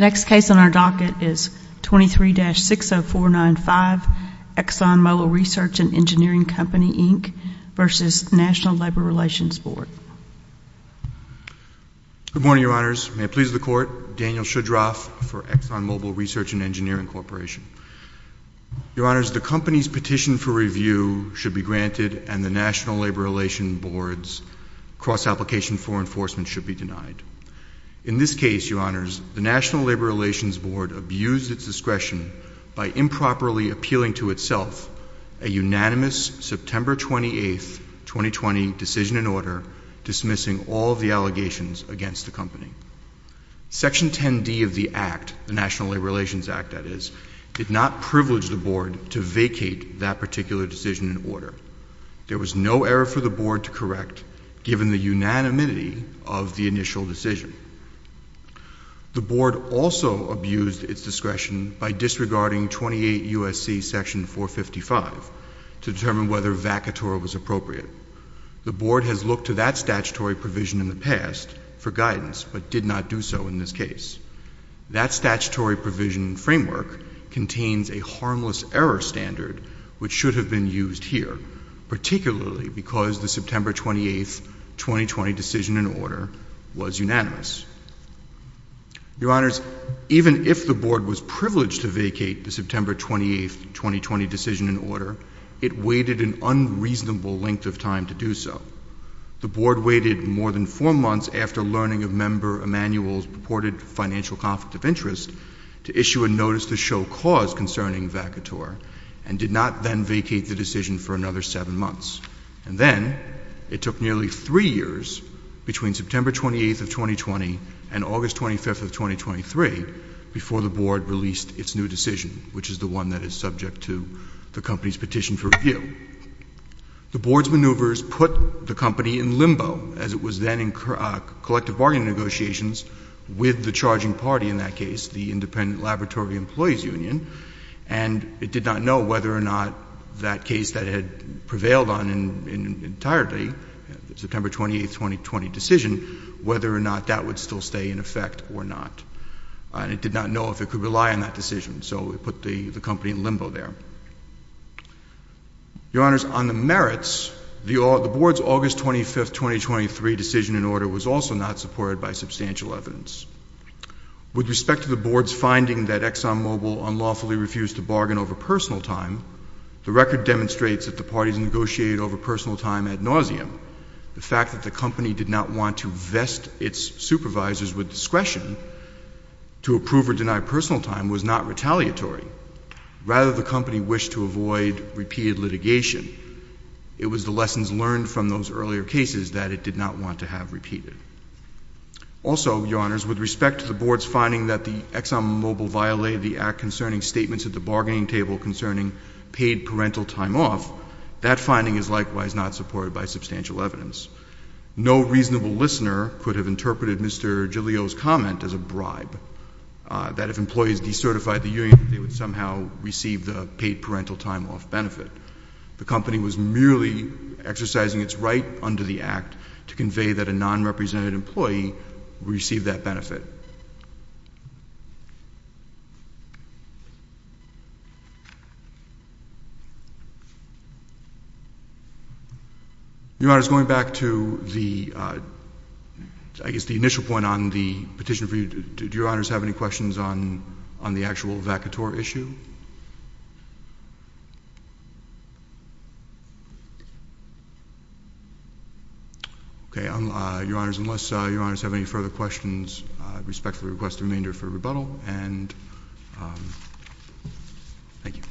Next case on our docket is 23-60495 ExxonMobil v. NLRB. Good morning, Your Honors. May it please the Court, Daniel Shudroff for ExxonMobil Research and Engineering Corporation. Your Honors, the company's petition for review should be granted and the National Labor Relations Board's cross-application for enforcement should be denied. In this case, Your Honors, the National Labor Relations Board abused its discretion by improperly appealing to itself a unanimous September 28, 2020, decision and order dismissing all of the allegations against the company. Section 10D of the Act, the National Labor Relations Act, that is, did not privilege the Board to vacate that particular decision and order. There was no error for the Board to correct given the unanimity of the initial decision. The Board also abused its discretion by disregarding 28 U.S.C. Section 455 to determine whether vacator was appropriate. The Board has looked to that statutory provision in the past for guidance but did not do so in this case. That statutory provision framework contains a harmless error standard which should have been used here, particularly because the September 28, 2020, decision and order was unanimous. Your Honors, even if the Board was privileged to vacate the September 28, 2020, decision and order, it waited an unreasonable length of time to do so. The Board waited more than four months after learning of member Emanuel's purported financial conflict of interest to issue a notice to show cause concerning vacator and did not then vacate the decision for another seven months. And then it took nearly three years between September 28, 2020, and August 25, 2023, before the Board released its new decision, which is the one that is subject to the company's petition for review. The Board's maneuvers put the company in limbo as it was then in collective bargaining negotiations with the charging party in that case, the Independent Laboratory Employees Union, and it did not know whether or not that case that had prevailed on entirely, the September 28, 2020, decision, whether or not that would still stay in effect or not. And it did not know if it could rely on that decision. So it put the company in limbo there. Your Honors, on the merits, the Board's August 25, 2023, decision and order was also not supported by substantial evidence. With respect to the Board's finding that ExxonMobil unlawfully refused to bargain over personal time, the record demonstrates that the parties negotiated over personal time ad nauseam. The fact that the company did not want to vest its supervisors with discretion to approve or deny personal time was not retaliatory. Rather, the company wished to avoid repeated litigation. It was the lessons learned from those earlier cases that it did not want to have repeated. Also, Your Honors, with respect to the Board's finding that the ExxonMobil violated the act concerning statements at the bargaining table concerning paid parental time off, that finding is likewise not supported by substantial evidence. No reasonable listener could have interpreted Mr. Giglio's comment as a bribe, that if employees decertified the union, they would somehow receive the paid parental time off benefit. The company was merely exercising its right under the act to convey that a non-represented employee received that benefit. Your Honors, going back to the, I guess, the initial point on the petition for you, did Your Honors have any questions on the actual vacator issue? Okay. Your Honors, unless Your Honors have any further questions, respectfully request a remainder for rebuttal, and thank you.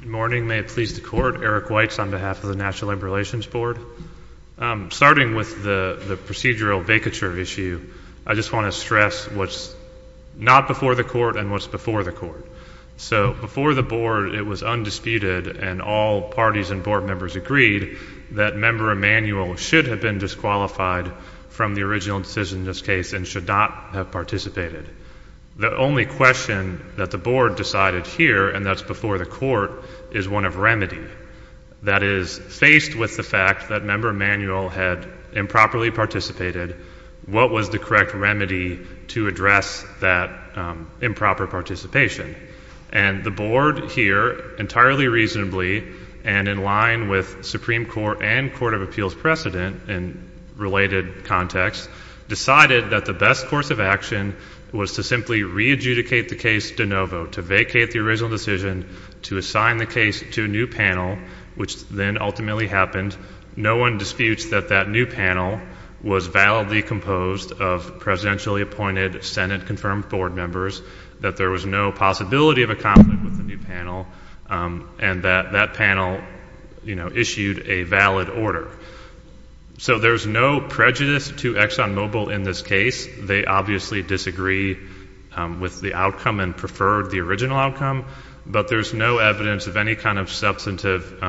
Good morning. May it please the Court. Eric Weitz on behalf of the National Labor Relations Board. Starting with the procedural vacature issue, I just want to stress what's not before the Court and what's before the Court. So, before the Board, it was undisputed and all parties and Board members agreed that Member Emanuel should have been disqualified from the original decision and should not have participated. The only question that the Board decided here, and that's before the Court, is one of remedy. That is, faced with the fact that Member Emanuel had improperly participated, what was the correct remedy to address that improper participation? And the Board here, entirely reasonably and in line with Supreme Court and Court of Appeals precedent and related context, decided that the best course of action was to simply re-adjudicate the case de novo, to vacate the original decision, to assign the case to a new panel, which then ultimately happened. No one disputes that that new panel was validly composed of presidentially appointed Senate-confirmed Board members, that there was no possibility of a conflict with the original decision, and that that panel, you know, issued a valid order. So, there's no prejudice to ExxonMobil in this case. They obviously disagree with the outcome and preferred the original outcome, but there's no evidence of any kind of substantive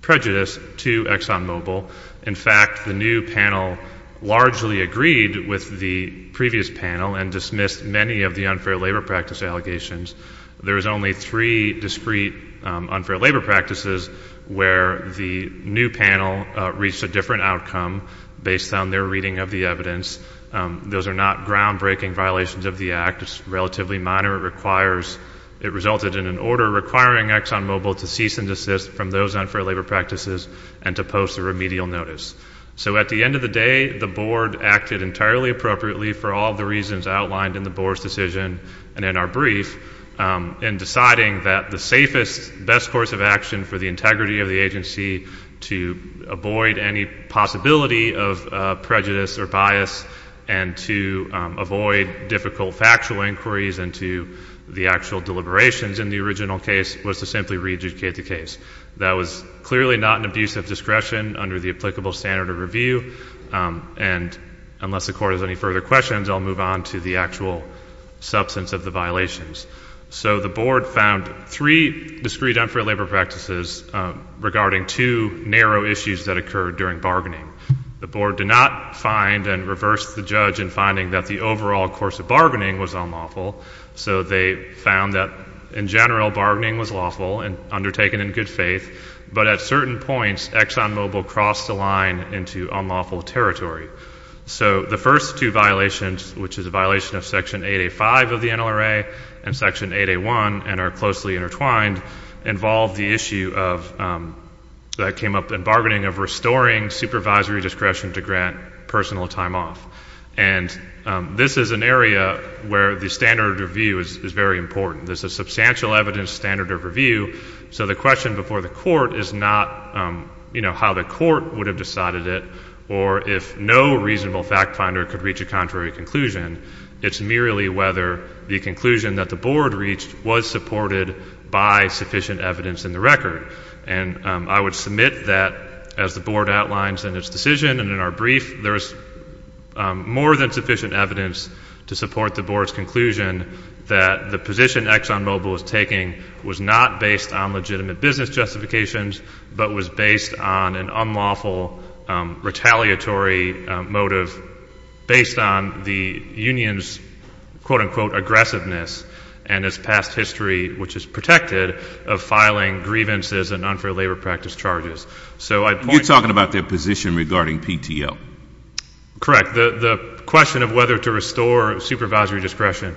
prejudice to ExxonMobil. In fact, the new panel largely agreed with the previous panel and dismissed many of the unfair labor practices where the new panel reached a different outcome based on their reading of the evidence. Those are not groundbreaking violations of the Act. It's relatively minor. It requires, it resulted in an order requiring ExxonMobil to cease and desist from those unfair labor practices and to post a remedial notice. So, at the end of the day, the Board acted entirely appropriately for all the reasons outlined in the Board's decision and in our brief in deciding that the safest, best course of action for the integrity of the agency to avoid any possibility of prejudice or bias and to avoid difficult factual inquiries into the actual deliberations in the original case was to simply re-adjudicate the case. That was clearly not an abuse of discretion under the applicable standard of review, and unless the Court has any further questions, I'll move on to the actual substance of the violations. So, the Board found three discreet unfair labor practices regarding two narrow issues that occurred during bargaining. The Board did not find and reverse the judge in finding that the overall course of bargaining was unlawful. So, they found that, in general, bargaining was lawful and undertaken in good faith, but at certain points, ExxonMobil crossed a line into unlawful territory. So, the first two violations, which is a violation of Section 8A.5 of the NLRA and Section 8A.1 and are closely intertwined, involve the issue of, that came up in bargaining, of restoring supervisory discretion to grant personal time off. And this is an area where the standard of review is very important. There's a substantial evidence standard of review, so the question before the Court is not, you know, how the Court would have decided it, or if no reasonable fact finder could reach a contrary conclusion. It's merely whether the conclusion that the Board reached was supported by sufficient evidence in the record. And I would submit that, as the Board outlines in its decision and in our brief, there's more than sufficient evidence to support the Board's conclusion that the position ExxonMobil was taking was not based on legitimate business justifications, but was based on an unlawful, retaliatory motive based on the union's, quote-unquote, aggressiveness and its past history, which is protected, of filing grievances and unfair labor practice charges. So, I'd point... You're talking about their position regarding PTO. Correct. The question of whether to restore supervisory discretion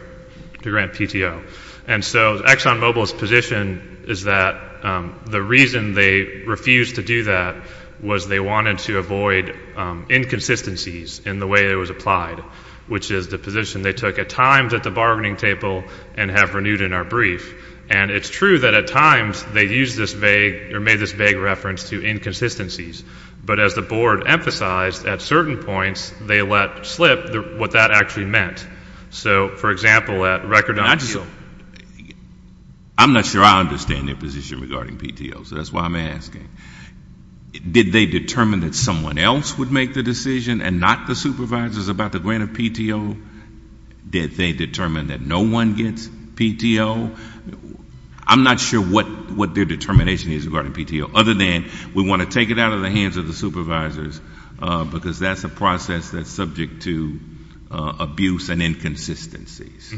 to grant PTO. And so, ExxonMobil's position is that the reason they refused to do that was they wanted to avoid inconsistencies in the way it was applied, which is the position they took at times at the bargaining table and have renewed in our brief. And it's true that at times they used this vague, or made this vague reference to inconsistencies. But as the Board emphasized, at certain points they let slip what that actually meant. So, for example, at record time... I'm not sure I understand their position regarding PTO, so that's why I'm asking. Did they determine that someone else would make the decision and not the supervisors about the grant of PTO? Did they determine that no one gets PTO? I'm not sure what their determination is regarding PTO, other than we want to take it out of the hands of the supervisors, because that's a process that's subject to abuse and inconsistencies.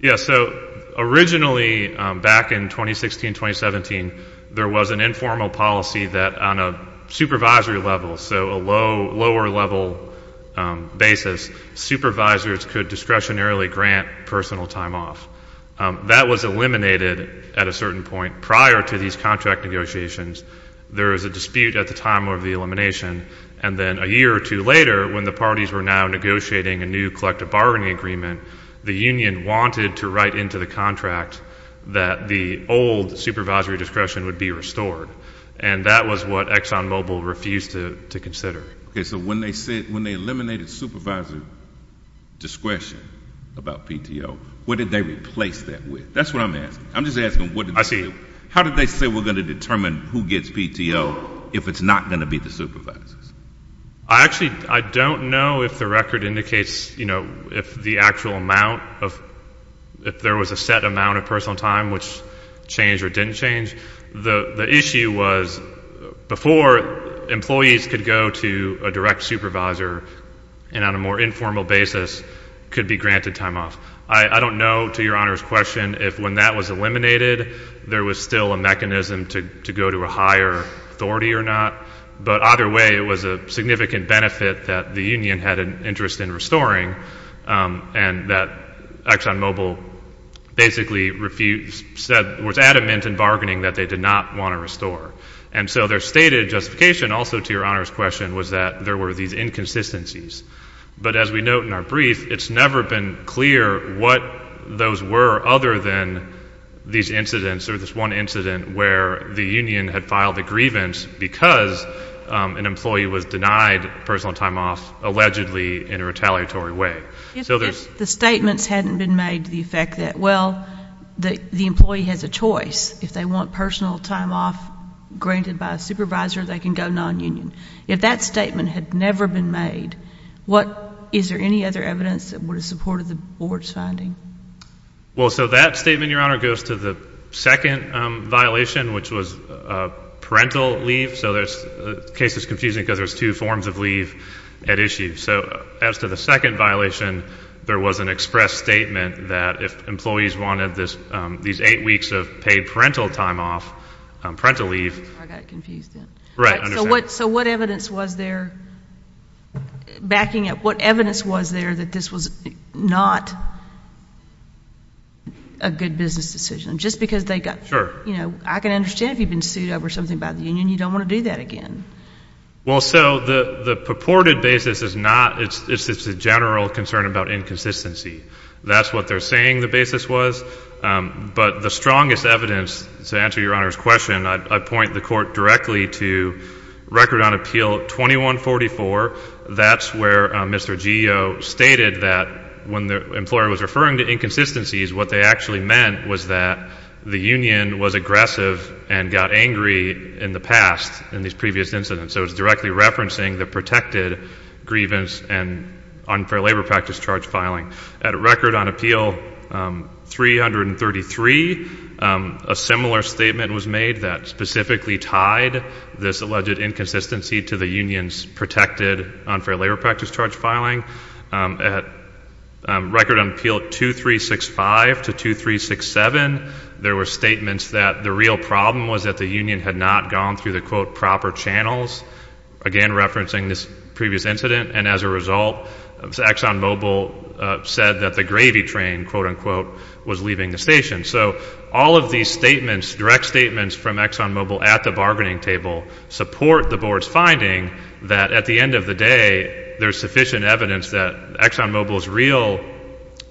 Yeah, so, originally, back in 2016-2017, there was an informal policy that on a supervisory level, so a lower level basis, supervisors could discretionarily grant personal time off. That was eliminated at a certain point prior to these contract negotiations. There was a dispute at the time of the elimination, and then a year or two later, when the parties were now negotiating a new collective bargaining agreement, the union wanted to write into the contract that the old supervisory discretion would be restored. And that was what ExxonMobil refused to consider. Okay, so when they said, when they eliminated supervisory discretion about PTO, what did they replace that with? That's what I'm asking. I'm just asking... I see. How did they say we're going to determine who gets PTO if it's not going to be the supervisors? I actually, I don't know if the record indicates, you know, if the actual amount of, if there was a set amount of personal time which changed or didn't change. The issue was, before, employees could go to a direct supervisor and on a more informal basis could be granted time off. I don't know, to Your Honor's question, if when that was eliminated, there was still a mechanism to go to a higher authority or not. But either way, it was a significant benefit that the union had an interest in restoring, and that ExxonMobil basically refused, said, was adamant in bargaining that they did not want to restore. And so their stated justification, also to Your Honor's question, was that there were these inconsistencies. But as we note in our brief, it's never been clear what those were other than these incidents or this one incident where the union had filed a grievance because an employee was denied personal time off allegedly in a retaliatory way. If the statements hadn't been made to the effect that, well, the employee has a choice. If they want personal time off granted by a supervisor, they can go non-union. If that statement had never been made, what, is there any other evidence that would have supported the board's finding? Well, so that statement, Your Honor, goes to the second violation, which was parental leave. So there's, the case is confusing because there's two forms of leave at issue. So as to the second violation, there was an express statement that if employees wanted this, these eight weeks of paid parental time off, parental leave. I got confused. Right. So what, so what evidence was there backing up? What evidence was there that this was not a good business decision? Just because they got, you know, I can understand if you've been sued over something about the union, you don't want to do that again. Well, so the purported basis is not, it's just a general concern about inconsistency. That's what they're saying the basis was. But the strongest evidence, to answer Your Honor's question, I point the court directly to Record on Appeal 2144. That's where Mr. Geo stated that when the employer was referring to inconsistencies, what they actually meant was that the union was aggressive and got angry in the past in these previous incidents. So it's directly referencing the protected grievance and unfair labor practice charge filing. At Record on Appeal 333, a similar statement was made that specifically tied this alleged inconsistency to the union's protected unfair labor practice charge filing. At Record on Appeal 2365 to 2367, there were statements that the real problem was that the union had not gone through the, quote, proper channels. Again, referencing this previous incident. And as a result, ExxonMobil said that the gravy train, quote unquote, was leaving the station. So all of these statements, direct statements from ExxonMobil at the bargaining table support the board's finding that at the end of the day, there's sufficient evidence that ExxonMobil's real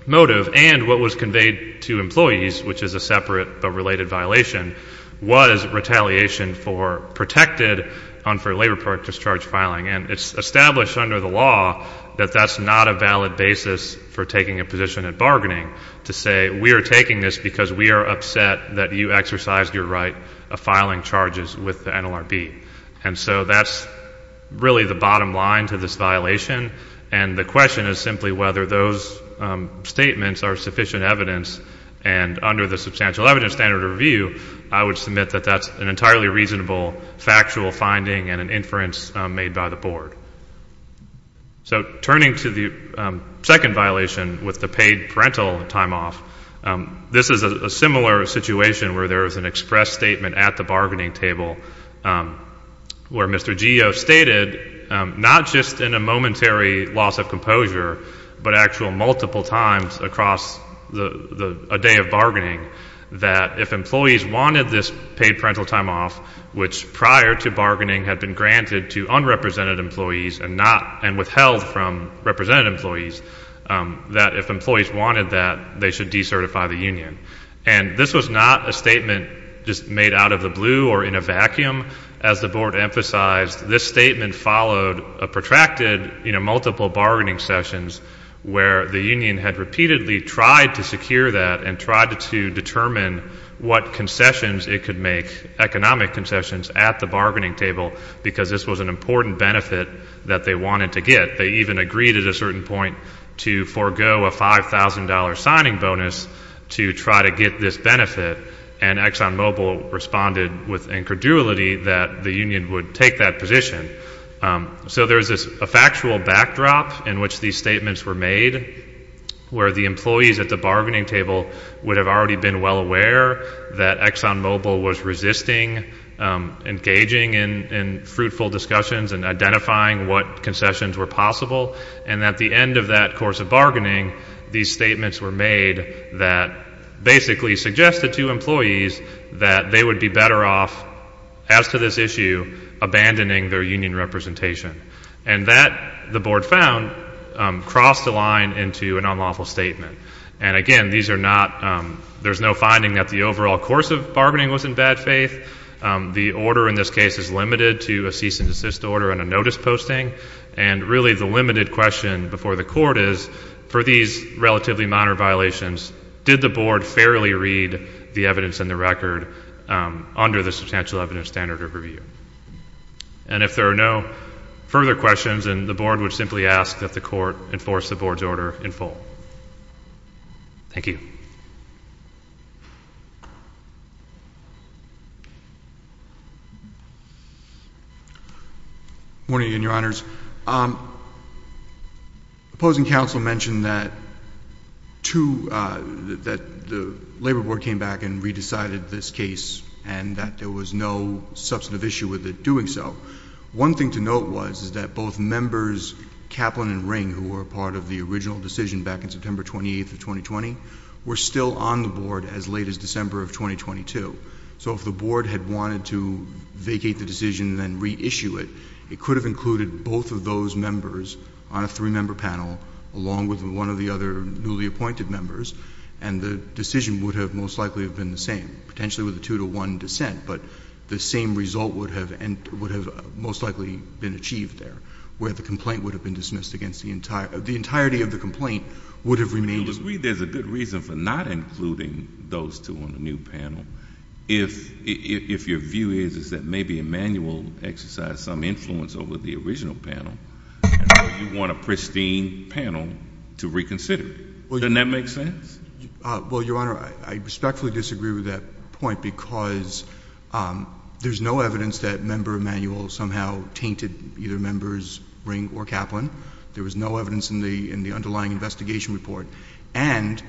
motive and what was conveyed to employees, which is a separate but related violation, was retaliation for protected unfair labor practice charge filing. And it's established under the law that that's not a valid basis for taking a position at bargaining to say we are taking this because we are upset that you exercised your right of filing charges with NLRB. And so that's really the bottom line to this violation. And the question is simply whether those statements are sufficient evidence. And under the substantial evidence standard review, I would submit that that's an entirely reasonable factual finding and an inference made by the board. So turning to the second violation with the paid parental time off, this is a similar situation where there is an express statement at the bargaining table where Mr. Geo stated, not just in a momentary loss of composure, but actual multiple times across a day of bargaining, that if employees wanted this paid parental time off, which prior to bargaining had been granted to unrepresented employees and withheld from represented employees, that if employees wanted that, they should decertify the union. And this was not a statement just made out of the blue or in a vacuum. As the board emphasized, this statement followed a protracted multiple bargaining sessions where the union had repeatedly tried to secure that and tried to determine what concessions it could make, economic concessions, at the bargaining table because this was an important benefit that they wanted to get. They even agreed at a certain point to forego a $5,000 signing bonus to try to get this benefit. And ExxonMobil responded with incredulity that the union would take that position. So there's a factual backdrop in which these statements were made, where the employees at the bargaining table would have already been well aware that ExxonMobil was resisting engaging in fruitful discussions and identifying what concessions were possible. And at the end of that course of bargaining, these statements were made that basically suggested to employees that they would be better off, as to this issue, abandoning their union representation. And that, the board found, crossed the line into an unlawful statement. And again, these are not, there's no finding that the overall course of bargaining was in bad faith. The order in this case is limited to a cease and desist order and a notice posting. And really the limited question before the court is, for these relatively minor violations, did the board fairly read the evidence in the record under the substantial evidence standard of review? And if there are no further questions, then the board would simply ask that the court enforce the board's order in full. Thank you. Good morning, Your Honors. Opposing counsel mentioned that the labor board came back and re-decided this case and that there was no substantive issue with it doing so. One thing to note was that both members, Kaplan and Ring, who were part of the original decision back in 2012, were still on the board as late as December of 2022. So if the board had wanted to vacate the decision and then reissue it, it could have included both of those members on a three-member panel, along with one of the other newly appointed members, and the decision would have most likely have been the same, potentially with a two-to-one dissent. But the same result would have most likely been achieved there, where the complaint would have been dismissed against the entire, the entirety of the complaint would have remained. There's a good reason for not including those two on the new panel, if your view is that maybe Emanuel exercised some influence over the original panel, and so you want a pristine panel to reconsider. Doesn't that make sense? Well, Your Honor, I respectfully disagree with that point because there's no evidence that member Emanuel somehow tainted either members Ring or Kaplan. There was no evidence in the underlying investigation report, and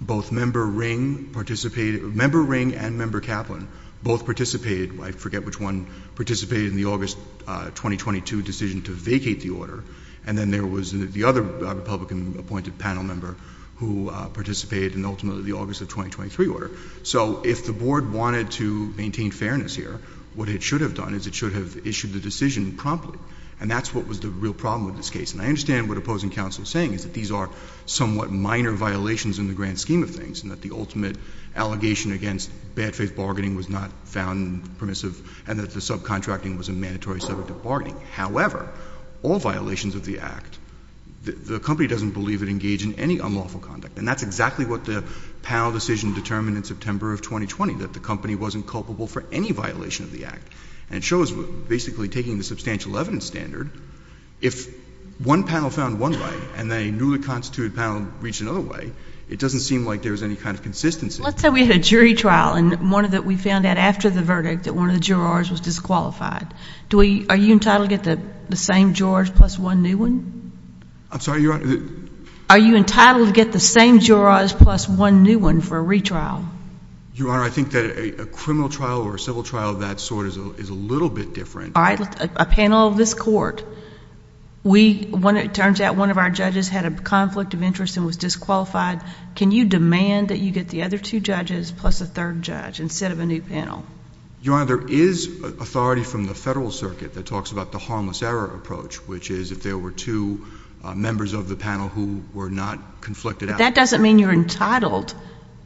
both member Ring participated, member Ring and member Kaplan both participated, I forget which one, participated in the August 2022 decision to vacate the order, and then there was the other Republican appointed panel member who participated in ultimately the August of 2023 order. So if the board wanted to maintain fairness here, what it should have done is it should have issued the decision promptly, and that's what was the real problem with this case. And I understand what opposing counsel is saying, is that these are somewhat minor violations in the grand scheme of things, and that the ultimate allegation against bad faith bargaining was not found permissive, and that the subcontracting was a mandatory subject of bargaining. However, all violations of the Act, the company doesn't believe it engaged in any unlawful conduct, and that's exactly what the panel decision determined in September of 2020, that the wasn't culpable for any violation of the Act. And it shows, basically taking the substantial evidence standard, if one panel found one right, and then a newly constituted panel reached another way, it doesn't seem like there was any kind of consistency. Let's say we had a jury trial, and we found out after the verdict that one of the jurors was disqualified. Are you entitled to get the same jurors plus one new one? I'm sorry, Your Honor? Are you entitled to get the same jurors plus one new one for a retrial? Your Honor, I think that a criminal trial or a civil trial of that sort is a little bit different. All right, a panel of this court, it turns out one of our judges had a conflict of interest and was disqualified. Can you demand that you get the other two judges plus a third judge, instead of a new panel? Your Honor, there is authority from the federal circuit that talks about the harmless error approach, which is if there were two members of the panel who were not conflicted. That doesn't mean you're entitled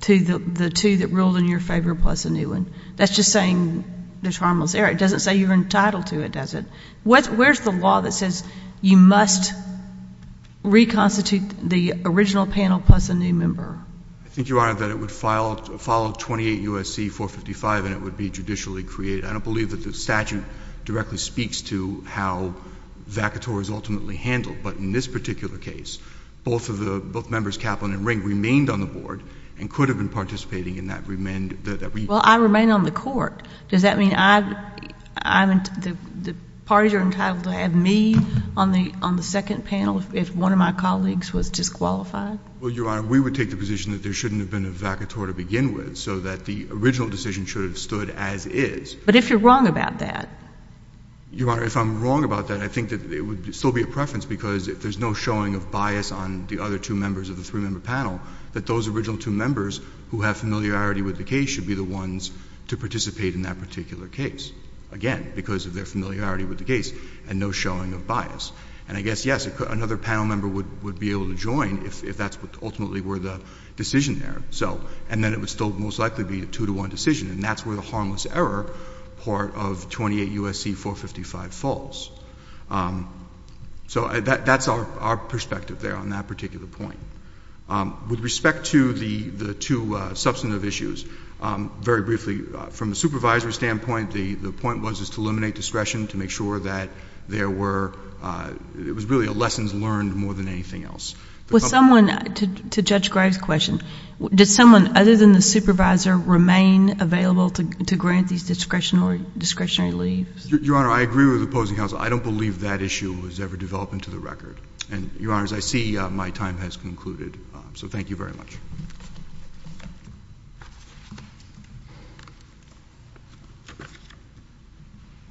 to the two that ruled in your favor plus a new one. That's just saying there's harmless error. It doesn't say you're entitled to it, does it? Where's the law that says you must reconstitute the original panel plus a new member? I think, Your Honor, that it would follow 28 U.S.C. 455, and it would be judicially created. I don't believe that the statute directly speaks to how vacatories ultimately handle, but in this particular case, both members Kaplan and Ring remained on the board and could have been participating in that reunion. Well, I remain on the court. Does that mean the parties are entitled to have me on the second panel if one of my colleagues was disqualified? Well, Your Honor, we would take the position that there shouldn't have been a vacatory to begin with, so that the original decision should have stood as is. But if you're wrong about that? Your Honor, if I'm wrong about that, I think that it would still be a preference because if there's no showing of bias on the other two members of the three-member panel, that those original two members who have familiarity with the case should be the ones to participate in that particular case, again, because of their familiarity with the case and no showing of bias. And I guess, yes, another panel member would be able to join if that's what ultimately were the decision there. So — and then it would still most likely be a two-to-one decision, and that's where the harmless error part of 28 U.S.C. 455 falls. So that's our perspective there on that particular point. With respect to the two substantive issues, very briefly, from the supervisor's standpoint, the point was to eliminate discretion, to make sure that there were — it was really a lessons learned more than anything else. With someone — to Judge Gregg's question, did someone other than the supervisor remain available to grant these discretionary leaves? Your Honor, I agree with the opposing counsel. I don't believe that issue was ever developed into the record. And, Your Honor, as I see, my time has concluded. So thank you very much.